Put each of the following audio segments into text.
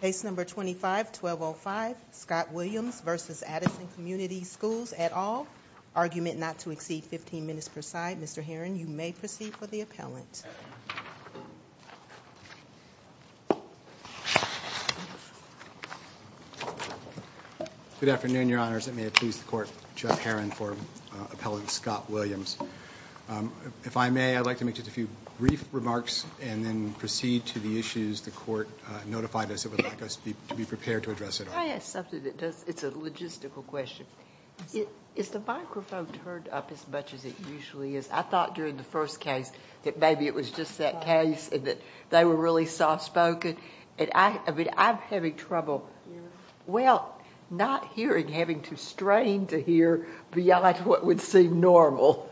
Case No. 25-1205, Scott Williams v. Addison Community Schools, et al. Argument not to exceed 15 minutes per side. Mr. Herron, you may proceed for the appellant. Good afternoon, Your Honors. It may please the Court, Jeff Herron for Appellant Scott Williams. If I may, I'd like to make just a few brief remarks and then proceed to the issues the Court notified us it would like us to be prepared to address at all. Can I ask something that does... it's a logistical question. Is the microphone turned up as much as it usually is? I thought during the first case that maybe it was just that case and that they were really soft-spoken. I'm having trouble... well, not hearing, having to strain to hear beyond what would seem normal.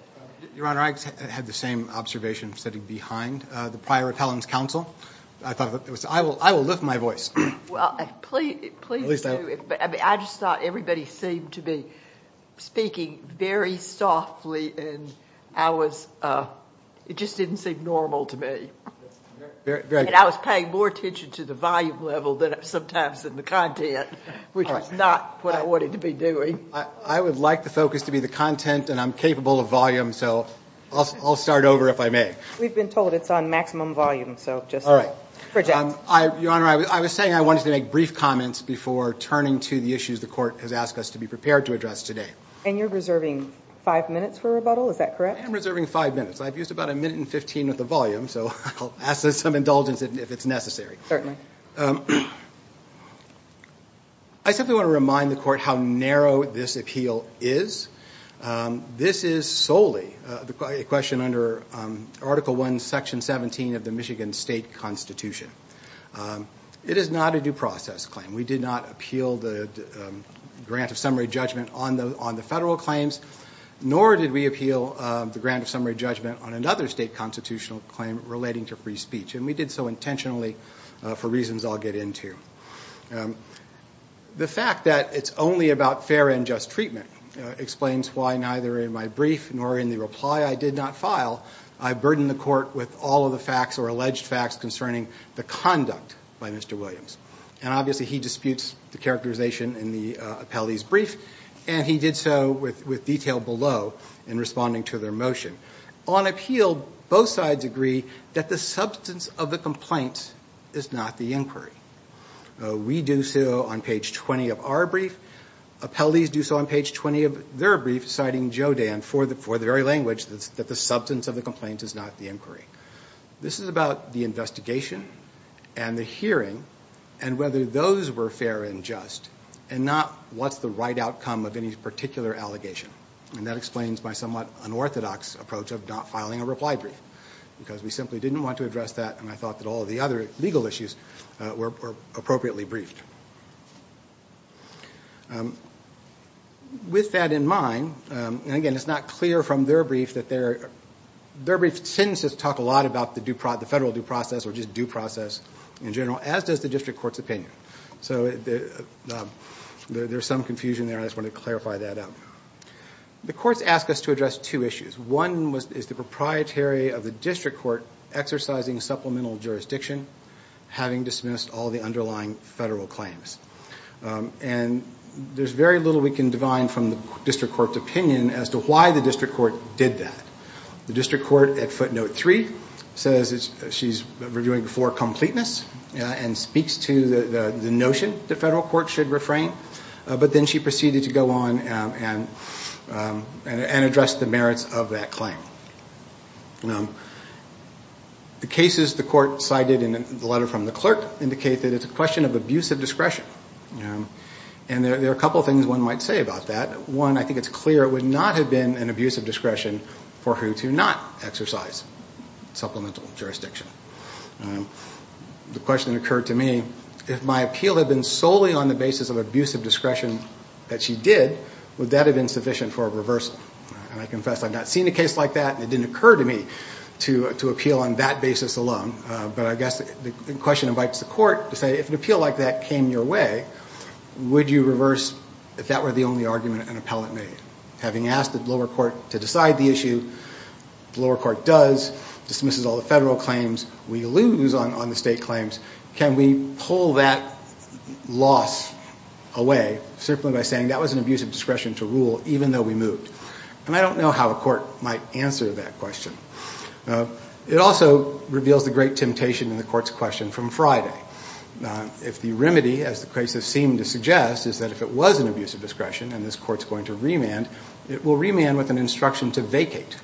Your Honor, I had the same observation sitting behind the prior appellant's counsel. I thought it was... I will lift my voice. Please do. I just thought everybody seemed to be speaking very softly and I was... it just didn't seem normal to me. And I was paying more attention to the volume level sometimes than the content, which is not what I wanted to be doing. I would like the focus to be the content and I'm capable of volume, so I'll start over if I may. We've been told it's on maximum volume, so just... Your Honor, I was saying I wanted to make brief comments before turning to the issues the Court has asked us to be prepared to address today. And you're reserving five minutes for rebuttal, is that correct? I am reserving five minutes. I've used about a minute and fifteen of the volume, so I'll ask for some indulgence if it's necessary. I simply want to remind the Court how narrow this appeal is. This is solely a question under Article I, Section 17 of the Michigan State Constitution. It is not a due process claim. We did not appeal the grant of summary judgment on the federal claims, nor did we appeal the grant of summary judgment on another state constitutional claim relating to free speech. And we did so intentionally for reasons I'll get into. The fact that it's only about fair and just treatment explains why neither in my brief nor in the reply I did not file, I burden the Court with all of the facts or alleged facts concerning the conduct by Mr. Williams. And obviously he disputes the characterization in the appellee's brief, and he did so with detail below in responding to their motion. On appeal, both sides agree that the substance of the complaint is not the inquiry. We do so on page 20 of our brief. Appellees do so on page 20 of their brief, citing Joe Dan for the very language that the substance of the complaint is not the inquiry. This is about the investigation and the hearing, and whether those were fair and just, and not what's the right outcome of any particular allegation. And that explains my somewhat unorthodox approach of not filing a reply brief, because we simply didn't want to address that, and I thought that all of the other legal issues were appropriately briefed. With that in mind, and again it's not clear from their brief that their, their brief tends to talk a lot about the federal due process or just due process in general, as does the District Court's opinion. So there's some confusion there, and I just wanted to clarify that out. The courts ask us to address two issues. One is the proprietary of the District Court exercising supplemental jurisdiction, having dismissed all the underlying federal claims. And there's very little we can divine from the District Court's opinion as to why the District Court did that. The District Court at footnote three says she's reviewing for completeness, and speaks to the notion the federal court should refrain, but then she proceeded to go on and address the merits of that claim. The cases the court cited in the letter from the clerk indicate that it's a question of abusive discretion. And there are a couple of things one might say about that. One, I think it's clear it would not have been an abusive discretion for her to not exercise supplemental jurisdiction. The question occurred to me, if my appeal had been solely on the basis of abusive discretion that she did, would that have been sufficient for a reversal? And I confess I've not seen a case like that, and it didn't occur to me to appeal on that basis alone. But I guess the question invites the court to say, if an appeal like that came your way, would you reverse if that were the only argument an appellate made? Having asked the lower court to decide the issue, the lower court does, dismisses all the federal claims. We lose on the state claims. Can we pull that loss away simply by saying that was an abusive discretion to rule even though we moved? And I don't know how a court might answer that question. It also reveals the great temptation in the court's question from Friday. If the remedy, as the cases seem to suggest, is that if it was an abusive discretion and this court's going to remand, it will remand with an instruction to vacate.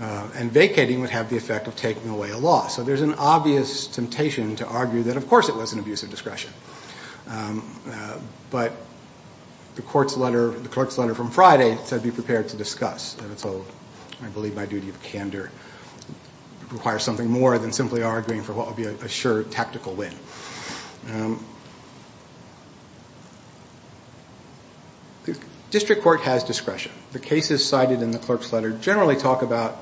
And vacating would have the effect of taking away a loss. So there's an obvious temptation to argue that, of course, it was an abusive discretion. But the clerk's letter from Friday said be prepared to discuss. And so I believe my duty of candor requires something more than simply arguing for what would be a sure tactical win. District court has discretion. The cases cited in the clerk's letter generally talk about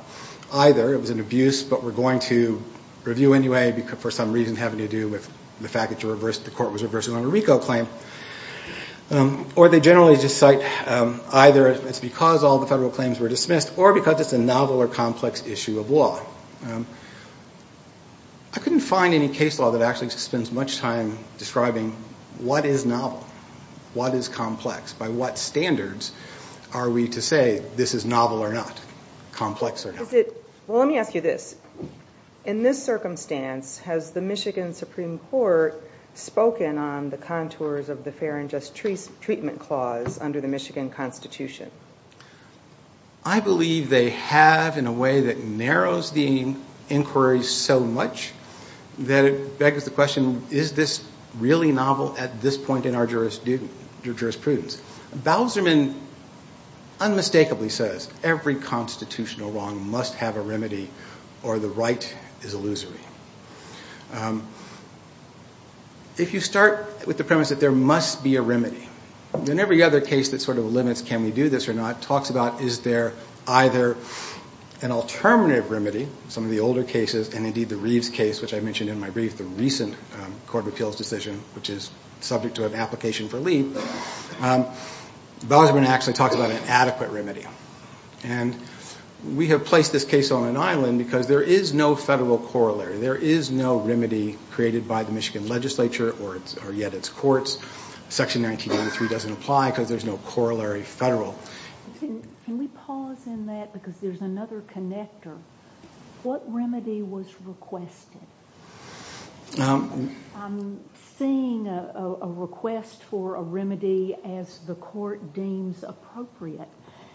either it was an abuse but we're going to review anyway for some reason having to do with the fact that the court was reversing on a RICO claim. Or they generally just cite either it's because all the federal claims were dismissed or because it's a novel or complex issue of law. I couldn't find any case law that actually spends much time describing what is novel, what is complex, by what standards are we to say this is novel or not, complex or not. Well, let me ask you this. In this circumstance, has the Michigan Supreme Court spoken on the contours of the fair and just treatment clause under the Michigan Constitution? I believe they have in a way that narrows the inquiry so much that it begs the question, is this really novel at this point in our jurisprudence? Because Bauserman unmistakably says every constitutional wrong must have a remedy or the right is illusory. If you start with the premise that there must be a remedy, then every other case that sort of limits can we do this or not talks about is there either an alternative remedy, some of the older cases and indeed the Reeves case which I mentioned in my brief, the recent Court of Appeals decision which is subject to an application for leave, Bauserman actually talks about an adequate remedy. And we have placed this case on an island because there is no federal corollary. There is no remedy created by the Michigan legislature or yet its courts. Section 1983 doesn't apply because there's no corollary federal. Can we pause in that because there's another connector? What remedy was requested? I'm seeing a request for a remedy as the court deems appropriate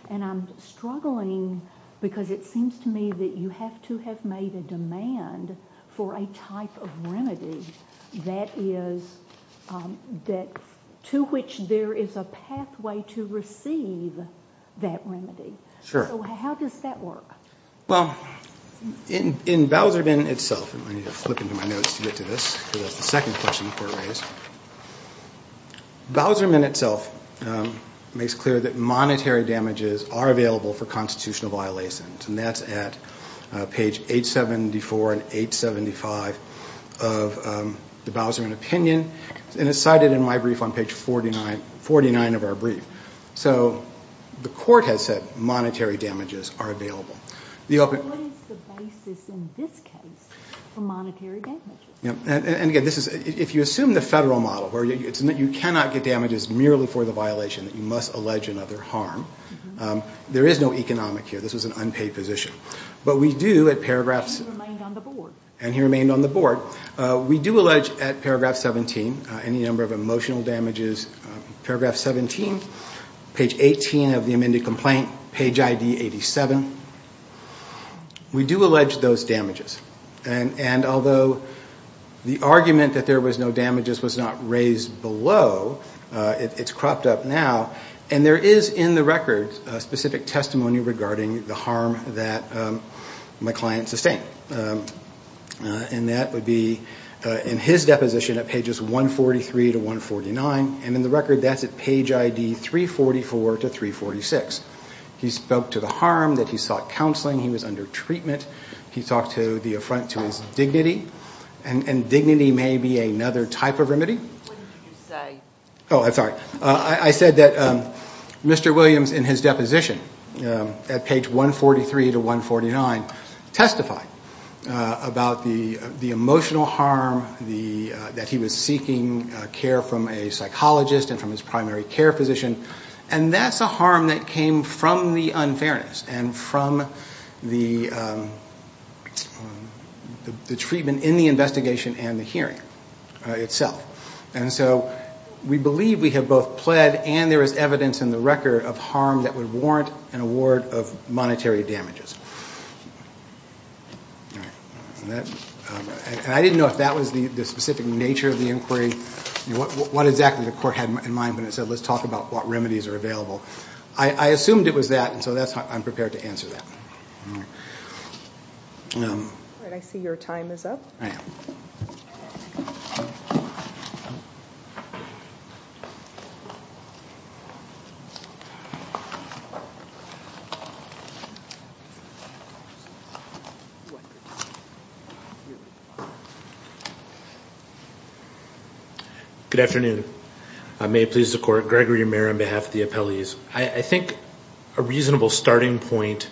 and I'm struggling because it seems to me that you have to have made a demand for a type of remedy that to which there is a pathway to receive that remedy. So how does that work? Well, in Bauserman itself, I need to flip into my notes to get to this because that's the second question the court raised. Bauserman itself makes clear that monetary damages are available for constitutional violations and that's at page 874 and 875 of the Bauserman opinion. And it's cited in my brief on page 49 of our brief. So the court has said monetary damages are available. What is the basis in this case for monetary damages? And again, if you assume the federal model where you cannot get damages merely for the violation, you must allege another harm, there is no economic here. This was an unpaid position. But we do at paragraphs... And he remained on the board. And he remained on the board. We do allege at paragraph 17 any number of emotional damages. Paragraph 17, page 18 of the amended complaint, page ID 87. We do allege those damages. And although the argument that there was no damages was not raised below, it's cropped up now. And there is in the record specific testimony regarding the harm that my client sustained. And that would be in his deposition at pages 143 to 149. And in the record that's at page ID 344 to 346. He spoke to the harm that he sought counseling. He was under treatment. He talked to the affront to his dignity. And dignity may be another type of remedy. What did you say? Oh, I'm sorry. I said that Mr. Williams in his deposition at page 143 to 149 testified about the emotional harm that he was seeking care from a psychologist and from his primary care physician. And that's a harm that came from the unfairness and from the treatment in the investigation and the hearing itself. And so we believe we have both pled and there is evidence in the record of harm that would warrant an award of monetary damages. And I didn't know if that was the specific nature of the inquiry. What exactly the court had in mind when it said let's talk about what remedies are available. I assumed it was that. And so I'm prepared to answer that. I see your time is up. Thank you. Good afternoon. May it please the court. Gregory Amer on behalf of the appellees. I think a reasonable starting point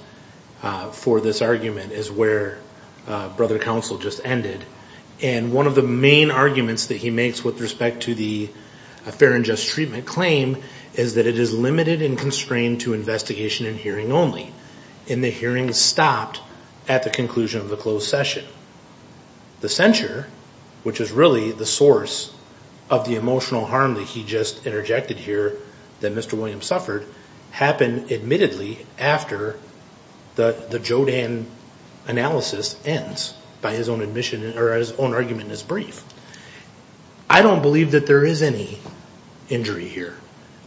for this argument is where Brother Counsel just ended. And one of the main arguments that he makes with respect to the fair and just treatment claim is that it is limited and constrained to investigation and hearing only. And the hearing stopped at the conclusion of the closed session. The censure, which is really the source of the emotional harm that he just interjected here that Mr. Williams suffered, happened admittedly after the Jodan analysis ends by his own admission or his own argument in his brief. I don't believe that there is any injury here.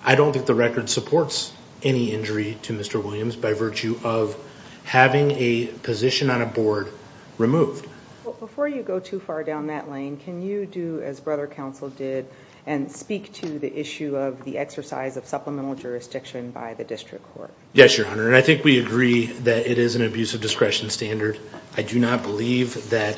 I don't think the record supports any injury to Mr. Williams by virtue of having a position on a board removed. Before you go too far down that lane, can you do as Brother Counsel did and speak to the issue of the exercise of supplemental jurisdiction by the district court? Yes, Your Honor. And I think we agree that it is an abuse of discretion standard. I do not believe that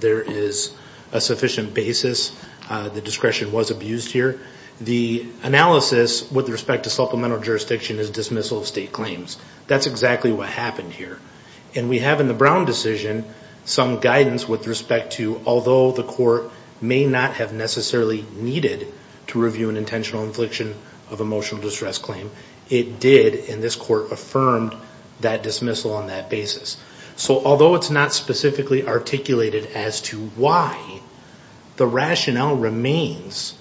there is a sufficient basis. The discretion was abused here. The analysis with respect to supplemental jurisdiction is dismissal of state claims. That's exactly what happened here. And we have in the Brown decision some guidance with respect to although the court may not have necessarily needed to review an intentional infliction of emotional distress claim, it did, and this court affirmed that dismissal on that basis. So although it's not specifically articulated as to why, the rationale remains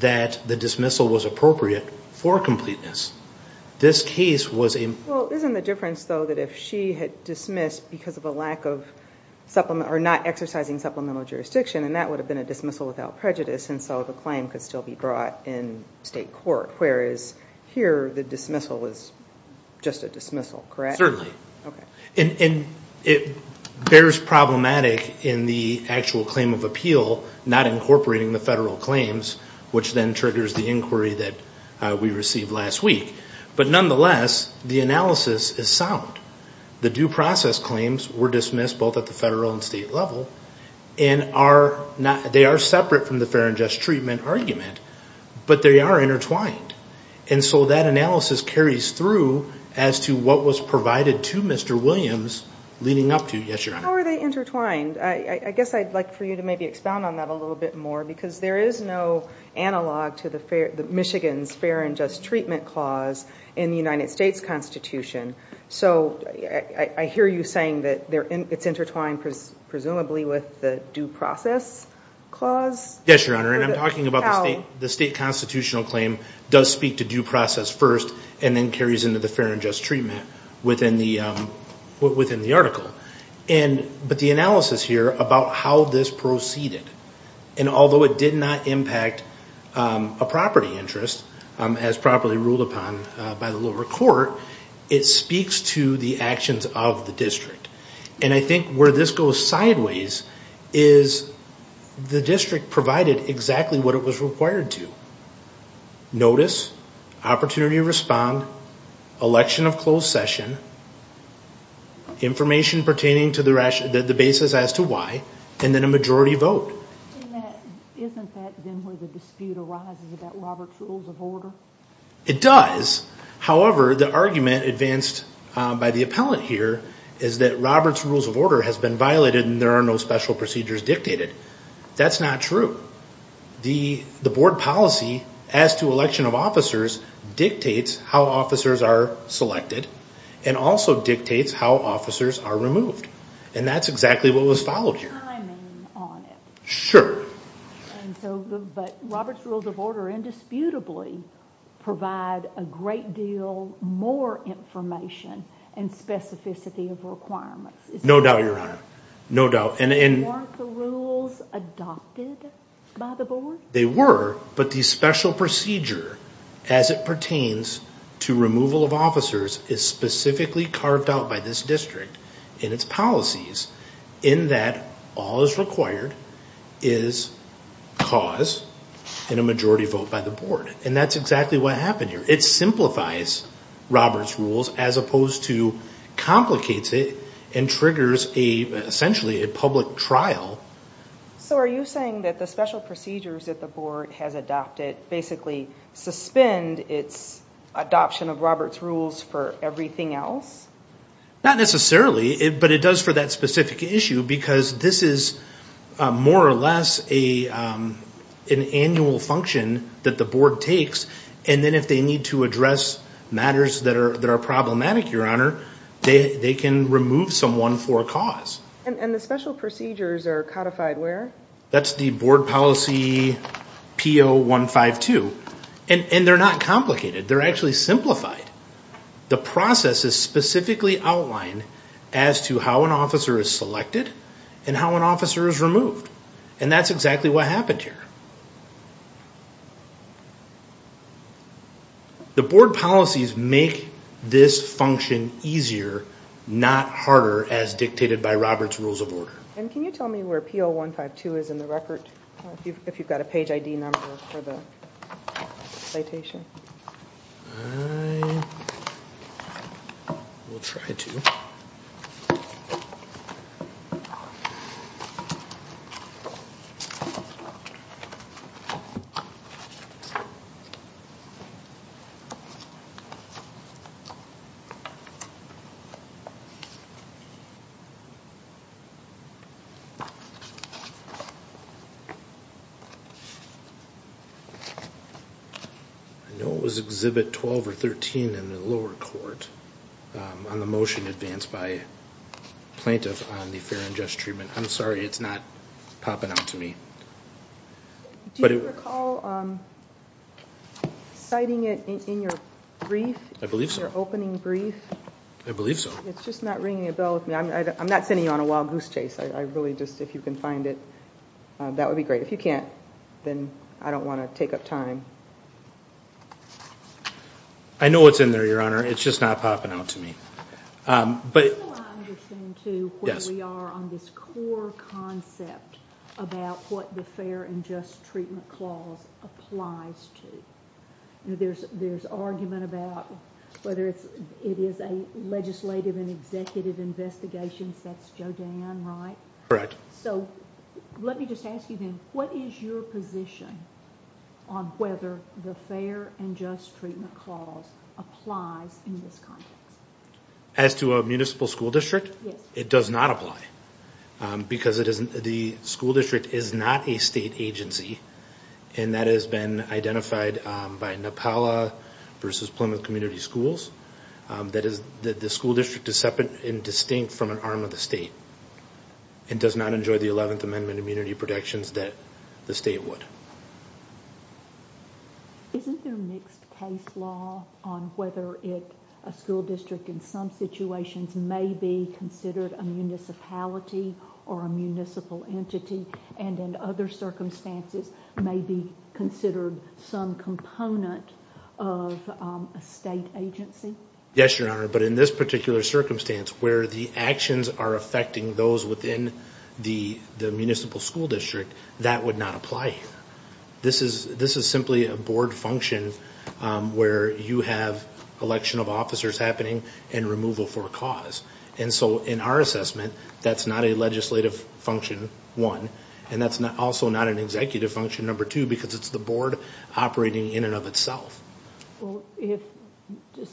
that the dismissal was appropriate for completeness. This case was a... Well, isn't the difference though that if she had dismissed because of a lack of supplement or not exercising supplemental jurisdiction, and that would have been a dismissal without prejudice and so the claim could still be brought in state court, whereas here the dismissal is just a dismissal, correct? Certainly. Okay. And it bears problematic in the actual claim of appeal, not incorporating the federal claims, which then triggers the inquiry that we received last week. But nonetheless, the analysis is sound. The due process claims were dismissed both at the federal and state level, and they are separate from the fair and just treatment argument, but they are intertwined. And so that analysis carries through as to what was provided to Mr. Williams leading up to. Yes, Your Honor. How are they intertwined? I guess I'd like for you to maybe expound on that a little bit more, because there is no analog to Michigan's fair and just treatment clause in the United States Constitution. So I hear you saying that it's intertwined presumably with the due process clause? Yes, Your Honor, and I'm talking about the state constitutional claim does speak to due process first and then carries into the fair and just treatment within the article. But the analysis here about how this proceeded, and although it did not impact a property interest as properly ruled upon by the lower court, it speaks to the actions of the district. And I think where this goes sideways is the district provided exactly what it was required to, notice, opportunity to respond, election of closed session, information pertaining to the basis as to why, and then a majority vote. Isn't that then where the dispute arises about Robert's Rules of Order? It does. However, the argument advanced by the appellant here is that Robert's Rules of Order has been violated and there are no special procedures dictated. That's not true. The board policy as to election of officers dictates how officers are selected and also dictates how officers are removed. And that's exactly what was followed here. Can I comment on it? Sure. But Robert's Rules of Order indisputably provide a great deal more information and specificity of requirements. No doubt, Your Honor. No doubt. Weren't the rules adopted by the board? They were, but the special procedure as it pertains to removal of officers is specifically carved out by this district in its policies in that all is required is cause and a majority vote by the board. And that's exactly what happened here. It simplifies Robert's Rules as opposed to complicates it and triggers essentially a public trial. So are you saying that the special procedures that the board has adopted basically suspend its adoption of Robert's Rules for everything else? Not necessarily, but it does for that specific issue because this is more or less an annual function that the board takes. And then if they need to address matters that are problematic, Your Honor, they can remove someone for a cause. And the special procedures are codified where? That's the board policy PO 152. And they're not complicated. They're actually simplified. The process is specifically outlined as to how an officer is selected and how an officer is removed. And that's exactly what happened here. The board policies make this function easier, not harder, as dictated by Robert's Rules of Order. And can you tell me where PO 152 is in the record if you've got a page ID number for the citation? I will try to. I know it was Exhibit 12 or 13 in the lower court on the motion advanced by a plaintiff on the fair and just treatment. I'm sorry, it's not popping up to me. Do you recall citing it in your brief? I believe so. In your opening brief? I believe so. It's just not ringing a bell with me. I'm not sending you on a wild goose chase. I really just, if you can find it, that would be great. If you can't, then I don't want to take up time. I know it's in there, Your Honor. It's just not popping out to me. Do I understand, too, where we are on this core concept about what the fair and just treatment clause applies to? There's argument about whether it is a legislative and executive investigation. That's Jodan, right? Correct. Let me just ask you then, what is your position on whether the fair and just treatment clause applies in this context? As to a municipal school district? Yes. It does not apply because the school district is not a state agency, and that has been identified by NEPALA versus Plymouth Community Schools. The school district is separate and distinct from an arm of the state and does not enjoy the 11th Amendment immunity protections that the state would. Isn't there mixed case law on whether a school district in some situations may be considered a municipality or a municipal entity and in other circumstances may be considered some component of a state agency? Yes, Your Honor, but in this particular circumstance where the actions are affecting those within the municipal school district, that would not apply. This is simply a board function where you have election of officers happening and removal for a cause. And so in our assessment, that's not a legislative function, one, and that's also not an executive function, number two, because it's the board operating in and of itself.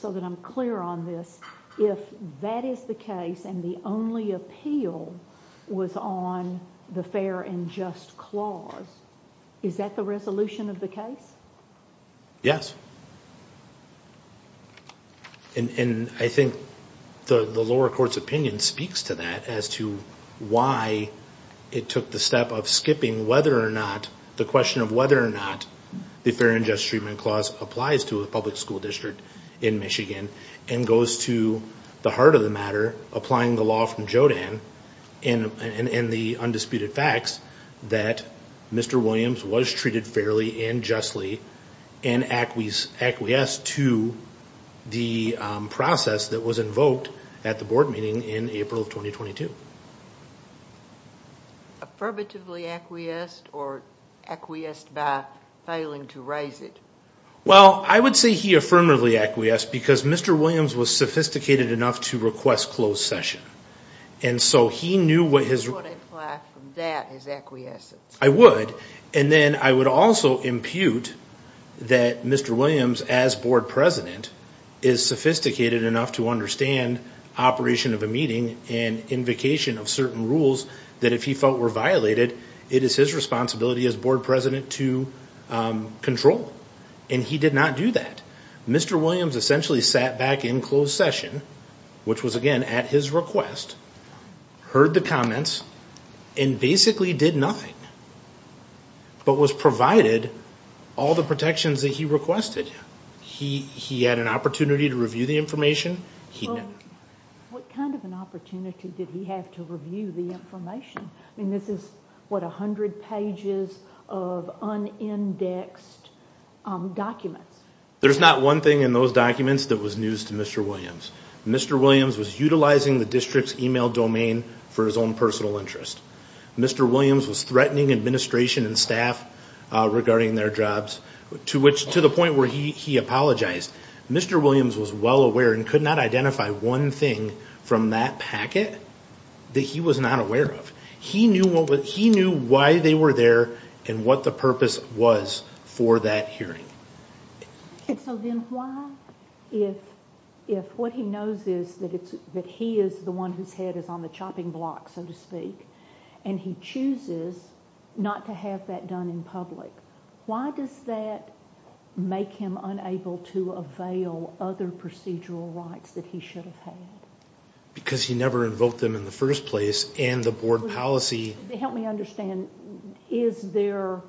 So that I'm clear on this, if that is the case and the only appeal was on the Fair and Just Clause, is that the resolution of the case? Yes. And I think the lower court's opinion speaks to that as to why it took the step of skipping whether or not, the Fair and Just Treatment Clause applies to a public school district in Michigan and goes to the heart of the matter, applying the law from JODAN and the undisputed facts that Mr. Williams was treated fairly and justly and acquiesced to the process that was invoked at the board meeting in April of 2022. Affirmatively acquiesced or acquiesced by failing to rise it? Well, I would say he affirmatively acquiesced because Mr. Williams was sophisticated enough to request closed session. And so he knew what his... You would apply that as acquiescence. I would. And then I would also impute that Mr. Williams, as board president, is sophisticated enough to understand operation of a meeting and invocation of certain rules that if he felt were violated, it is his responsibility as board president to control. And he did not do that. Mr. Williams essentially sat back in closed session, which was, again, at his request, heard the comments, and basically did nothing but was provided all the protections that he requested. He had an opportunity to review the information. What kind of an opportunity did he have to review the information? I mean, this is, what, 100 pages of unindexed documents. There's not one thing in those documents that was news to Mr. Williams. Mr. Williams was utilizing the district's email domain for his own personal interest. Mr. Williams was threatening administration and staff regarding their jobs, to the point where he apologized. Mr. Williams was well aware and could not identify one thing from that packet that he was not aware of. He knew why they were there and what the purpose was for that hearing. So then why, if what he knows is that he is the one whose head is on the chopping block, so to speak, and he chooses not to have that done in public, why does that make him unable to avail other procedural rights that he should have had? Because he never invoked them in the first place, and the board policy... Help me understand. Is there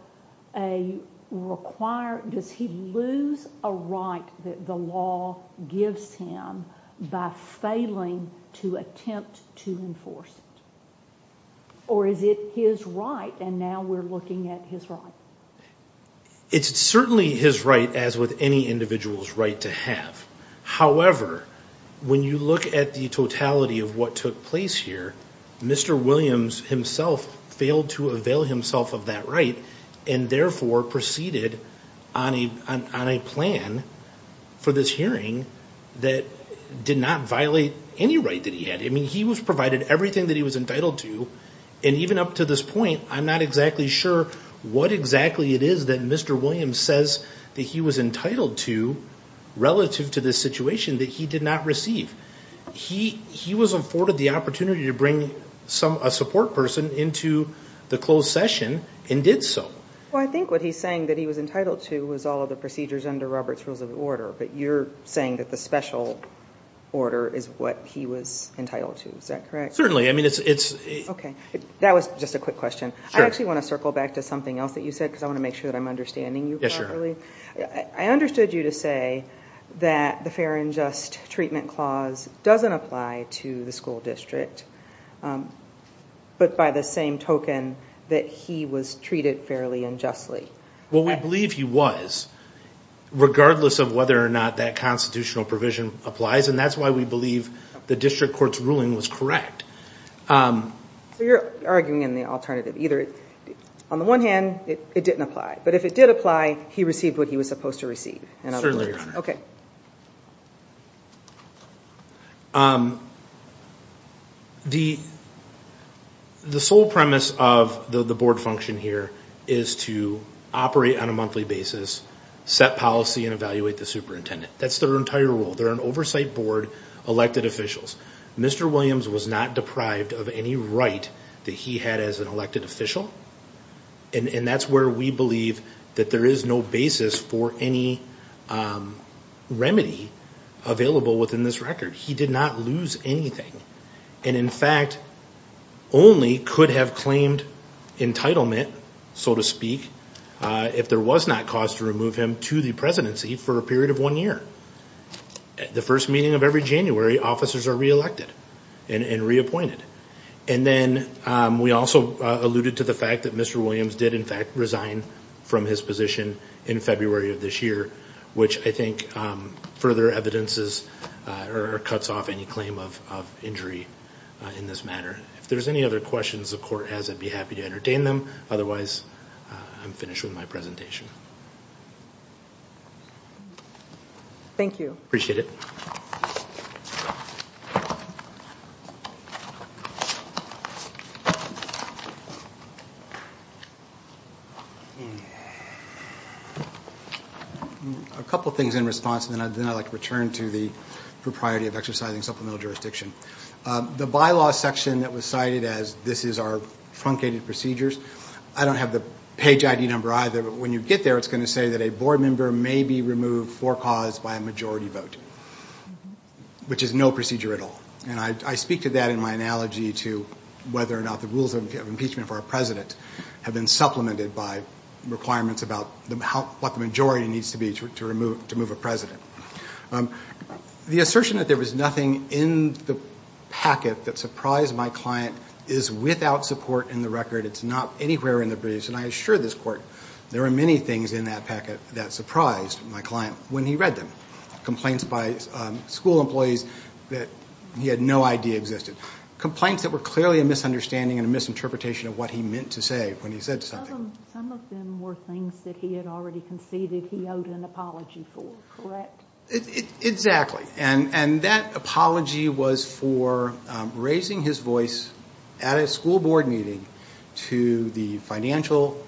a required... Does he lose a right that the law gives him by failing to attempt to enforce it? Or is it his right, and now we're looking at his right? It's certainly his right, as with any individual's right to have. However, when you look at the totality of what took place here, Mr. Williams himself failed to avail himself of that right and therefore proceeded on a plan for this hearing that did not violate any right that he had. I mean, he was provided everything that he was entitled to, and even up to this point, I'm not exactly sure what exactly it is that Mr. Williams says that he was entitled to relative to this situation that he did not receive. He was afforded the opportunity to bring a support person into the closed session and did so. Well, I think what he's saying that he was entitled to was all of the procedures under Robert's Rules of Order, but you're saying that the special order is what he was entitled to. Is that correct? Certainly. I mean, it's... Okay. That was just a quick question. Sure. I actually want to circle back to something else that you said, because I want to make sure that I'm understanding you properly. I understood you to say that the Fair and Just Treatment Clause doesn't apply to the school district, but by the same token, that he was treated fairly and justly. Well, we believe he was, regardless of whether or not that constitutional provision applies, and that's why we believe the district court's ruling was correct. So you're arguing in the alternative either. On the one hand, it didn't apply. But if it did apply, he received what he was supposed to receive. Certainly, Your Honor. Okay. The sole premise of the board function here is to operate on a monthly basis, set policy, and evaluate the superintendent. That's their entire role. They're an oversight board, elected officials. Mr. Williams was not deprived of any right that he had as an elected official, and that's where we believe that there is no basis for any remedy available within this record. He did not lose anything, and in fact, only could have claimed entitlement, so to speak, if there was not cause to remove him to the presidency for a period of one year. The first meeting of every January, officers are reelected and reappointed. And then we also alluded to the fact that Mr. Williams did, in fact, resign from his position in February of this year, which I think further evidences or cuts off any claim of injury in this matter. If there's any other questions the court has, I'd be happy to entertain them. Otherwise, I'm finished with my presentation. Thank you. Appreciate it. A couple things in response, and then I'd like to return to the propriety of exercising supplemental jurisdiction. The bylaw section that was cited as this is our truncated procedures, I don't have the page ID number either, but when you get there, it's going to say that a board member may be removed for cause by a majority vote, which is no procedure at all. And I speak to that in my analogy to whether or not the rules of impeachment for a president have been supplemented by requirements about what the majority needs to be to remove a president. The assertion that there was nothing in the packet that surprised my client is without support in the record. It's not anywhere in the briefs, and I assure this Court, there are many things in that packet that surprised my client when he read them. Complaints by school employees that he had no idea existed. Complaints that were clearly a misunderstanding and a misinterpretation of what he meant to say when he said something. Some of them were things that he had already conceded he owed an apology for, correct? Exactly, and that apology was for raising his voice at a school board meeting to the financial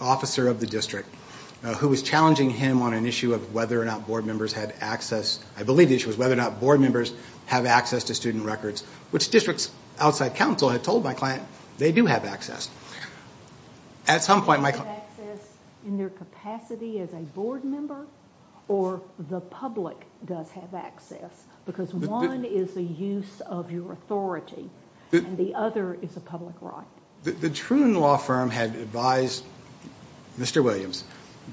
officer of the district who was challenging him on an issue of whether or not board members had access, I believe the issue was whether or not board members have access to student records, which districts outside counsel had told my client they do have access. Do they have access in their capacity as a board member, or the public does have access? Because one is the use of your authority, and the other is a public right. The Troon Law Firm had advised Mr. Williams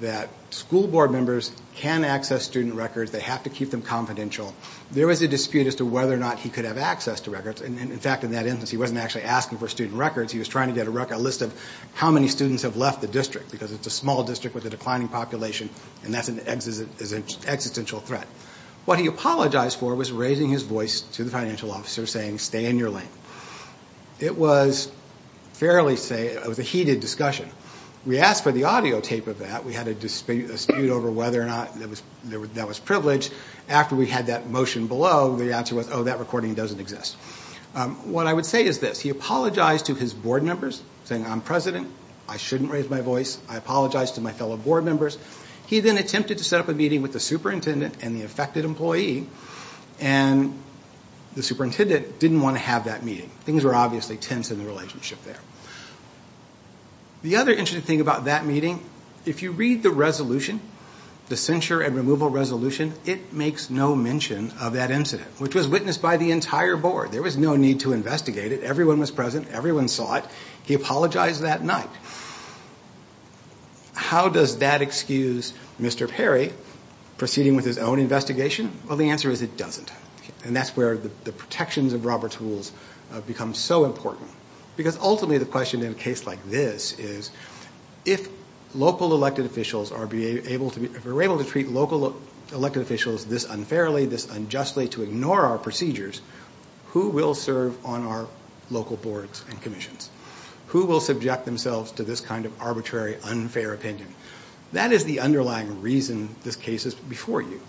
that school board members can access student records, they have to keep them confidential. There was a dispute as to whether or not he could have access to records, and in fact in that instance he wasn't actually asking for student records, he was trying to get a list of how many students have left the district, because it's a small district with a declining population, and that's an existential threat. What he apologized for was raising his voice to the financial officer saying, stay in your lane. It was a heated discussion. We asked for the audio tape of that, we had a dispute over whether or not that was privileged. After we had that motion below, the answer was, oh, that recording doesn't exist. What I would say is this. He apologized to his board members, saying I'm president, I shouldn't raise my voice, I apologize to my fellow board members. He then attempted to set up a meeting with the superintendent and the affected employee, and the superintendent didn't want to have that meeting. Things were obviously tense in the relationship there. The other interesting thing about that meeting, if you read the resolution, the censure and removal resolution, it makes no mention of that incident, which was witnessed by the entire board. There was no need to investigate it. Everyone was present, everyone saw it. He apologized that night. How does that excuse Mr. Perry proceeding with his own investigation? Well, the answer is it doesn't. And that's where the protections of Robert's Rules become so important, because ultimately the question in a case like this is, if local elected officials are able to treat local elected officials this unfairly, this unjustly, to ignore our procedures, who will serve on our local boards and commissions? Who will subject themselves to this kind of arbitrary, unfair opinion? That is the underlying reason this case is before you.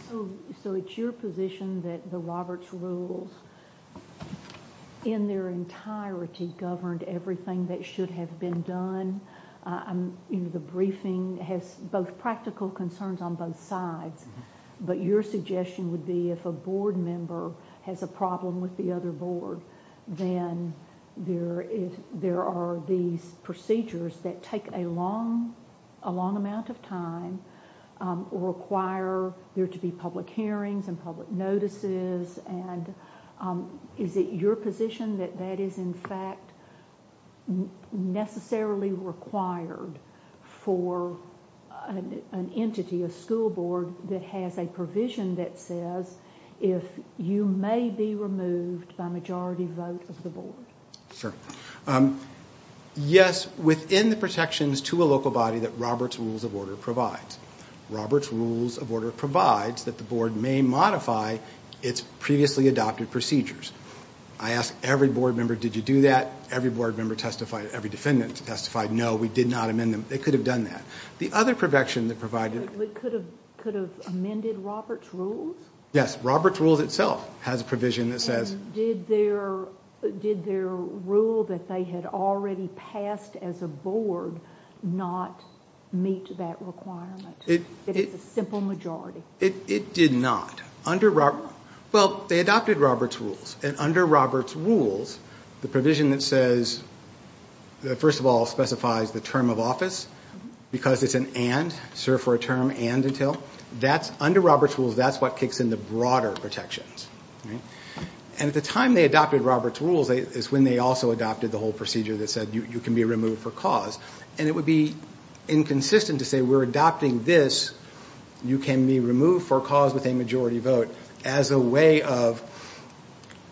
So it's your position that the Robert's Rules, in their entirety, governed everything that should have been done? The briefing has both practical concerns on both sides, but your suggestion would be if a board member has a problem with the other board, then there are these procedures that take a long amount of time or require there to be public hearings and public notices. Is it your position that that is in fact necessarily required for an entity, a school board, that has a provision that says, if you may be removed by majority vote of the board? Sure. Yes, within the protections to a local body that Robert's Rules of Order provides. Robert's Rules of Order provides that the board may modify its previously adopted procedures. I ask every board member, did you do that? Every board member testified, every defendant testified, no, we did not amend them. They could have done that. The other protection that provided... Could have amended Robert's Rules? Yes, Robert's Rules itself has a provision that says... Did their rule that they had already passed as a board not meet that requirement? It is a simple majority. It did not. Well, they adopted Robert's Rules, and under Robert's Rules, the provision that says, first of all, specifies the term of office, because it's an and, serve for a term and until. Under Robert's Rules, that's what kicks in the broader protections. And at the time they adopted Robert's Rules, is when they also adopted the whole procedure that said you can be removed for cause. And it would be inconsistent to say we're adopting this, you can be removed for cause with a majority vote, as a way of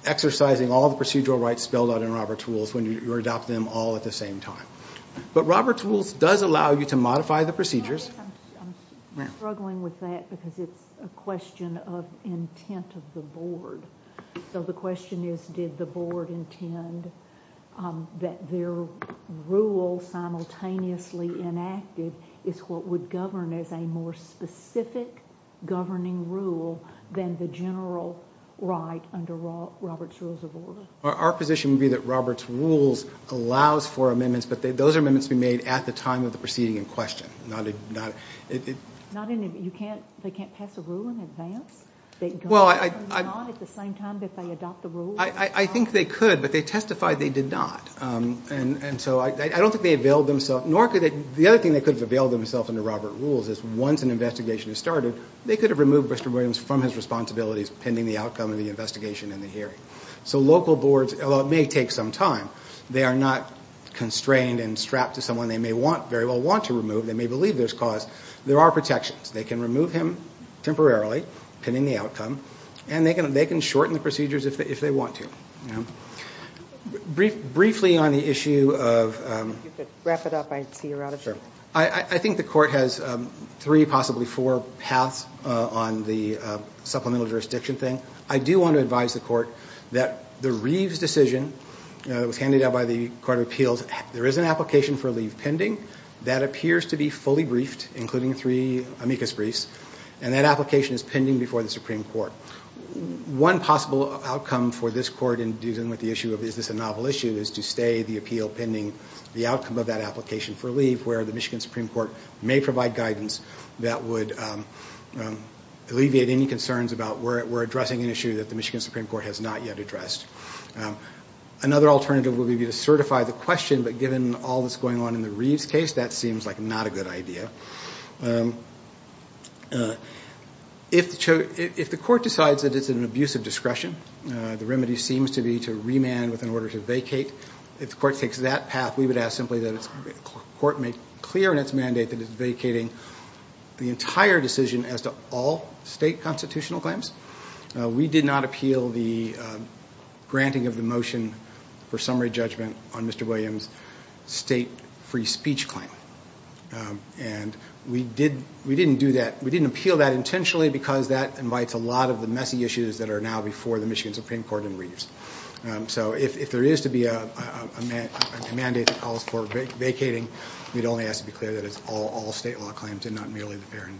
exercising all the procedural rights spelled out in Robert's Rules when you're adopting them all at the same time. But Robert's Rules does allow you to modify the procedures. I'm struggling with that because it's a question of intent of the board. So the question is, did the board intend that their rule simultaneously enacted is what would govern as a more specific governing rule than the general right under Robert's Rules of Order? Our position would be that Robert's Rules allows for amendments, but those amendments would be made at the time of the proceeding in question. They can't pass a rule in advance? Well, I think they could, but they testified they did not. And so I don't think they availed themselves, nor could they, the other thing they could have availed themselves under Robert's Rules is once an investigation is started, they could have removed Mr. Williams from his responsibilities pending the outcome of the investigation and the hearing. So local boards, although it may take some time, they are not constrained and strapped to someone they may very well want to remove, they may believe there's cause. There are protections. They can remove him temporarily pending the outcome, and they can shorten the procedures if they want to. Briefly on the issue of... If you could wrap it up, I'd see you're out of time. I think the court has three, possibly four, paths on the supplemental jurisdiction thing. I do want to advise the court that the Reeves decision that was handed out by the Court of Appeals, there is an application for leave pending that appears to be fully briefed, including three amicus briefs, and that application is pending before the Supreme Court. One possible outcome for this court in dealing with the issue of is this a novel issue is to stay the appeal pending the outcome of that application for leave where the Michigan Supreme Court may provide guidance that would alleviate any concerns about we're addressing an issue that the Michigan Supreme Court has not yet addressed. Another alternative would be to certify the question, but given all that's going on in the Reeves case, that seems like not a good idea. If the court decides that it's an abuse of discretion, the remedy seems to be to remand with an order to vacate, if the court takes that path, we would ask simply that the court make clear in its mandate that it's vacating the entire decision as to all state constitutional claims. We did not appeal the granting of the motion for summary judgment on Mr. Williams' state free speech claim, and we didn't appeal that intentionally because that invites a lot of the messy issues that are now before the Michigan Supreme Court in Reeves. So if there is to be a mandate that calls for vacating, we'd only ask to be clear that it's all state law claims and not merely the fair and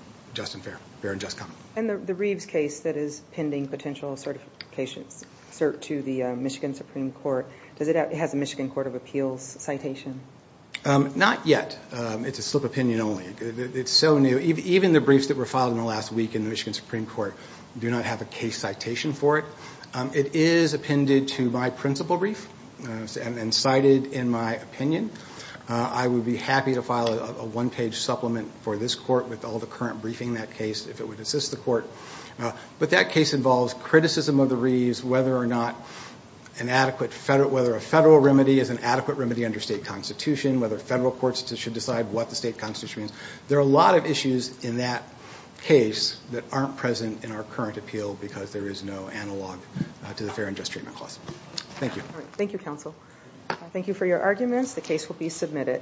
just common. And the Reeves case that is pending potential certifications, cert to the Michigan Supreme Court, does it have a Michigan Court of Appeals citation? Not yet. It's a slip of opinion only. It's so new. Even the briefs that were filed in the last week in the Michigan Supreme Court do not have a case citation for it. It is appended to my principal brief and cited in my opinion. I would be happy to file a one-page supplement for this court with all the current briefing in that case if it would assist the court. But that case involves criticism of the Reeves, whether or not a federal remedy is an adequate remedy under state constitution, whether federal courts should decide what the state constitution is. There are a lot of issues in that case that aren't present in our current appeal because there is no analog to the fair and just treatment clause. Thank you. Thank you, counsel. Thank you for your arguments. The case will be submitted.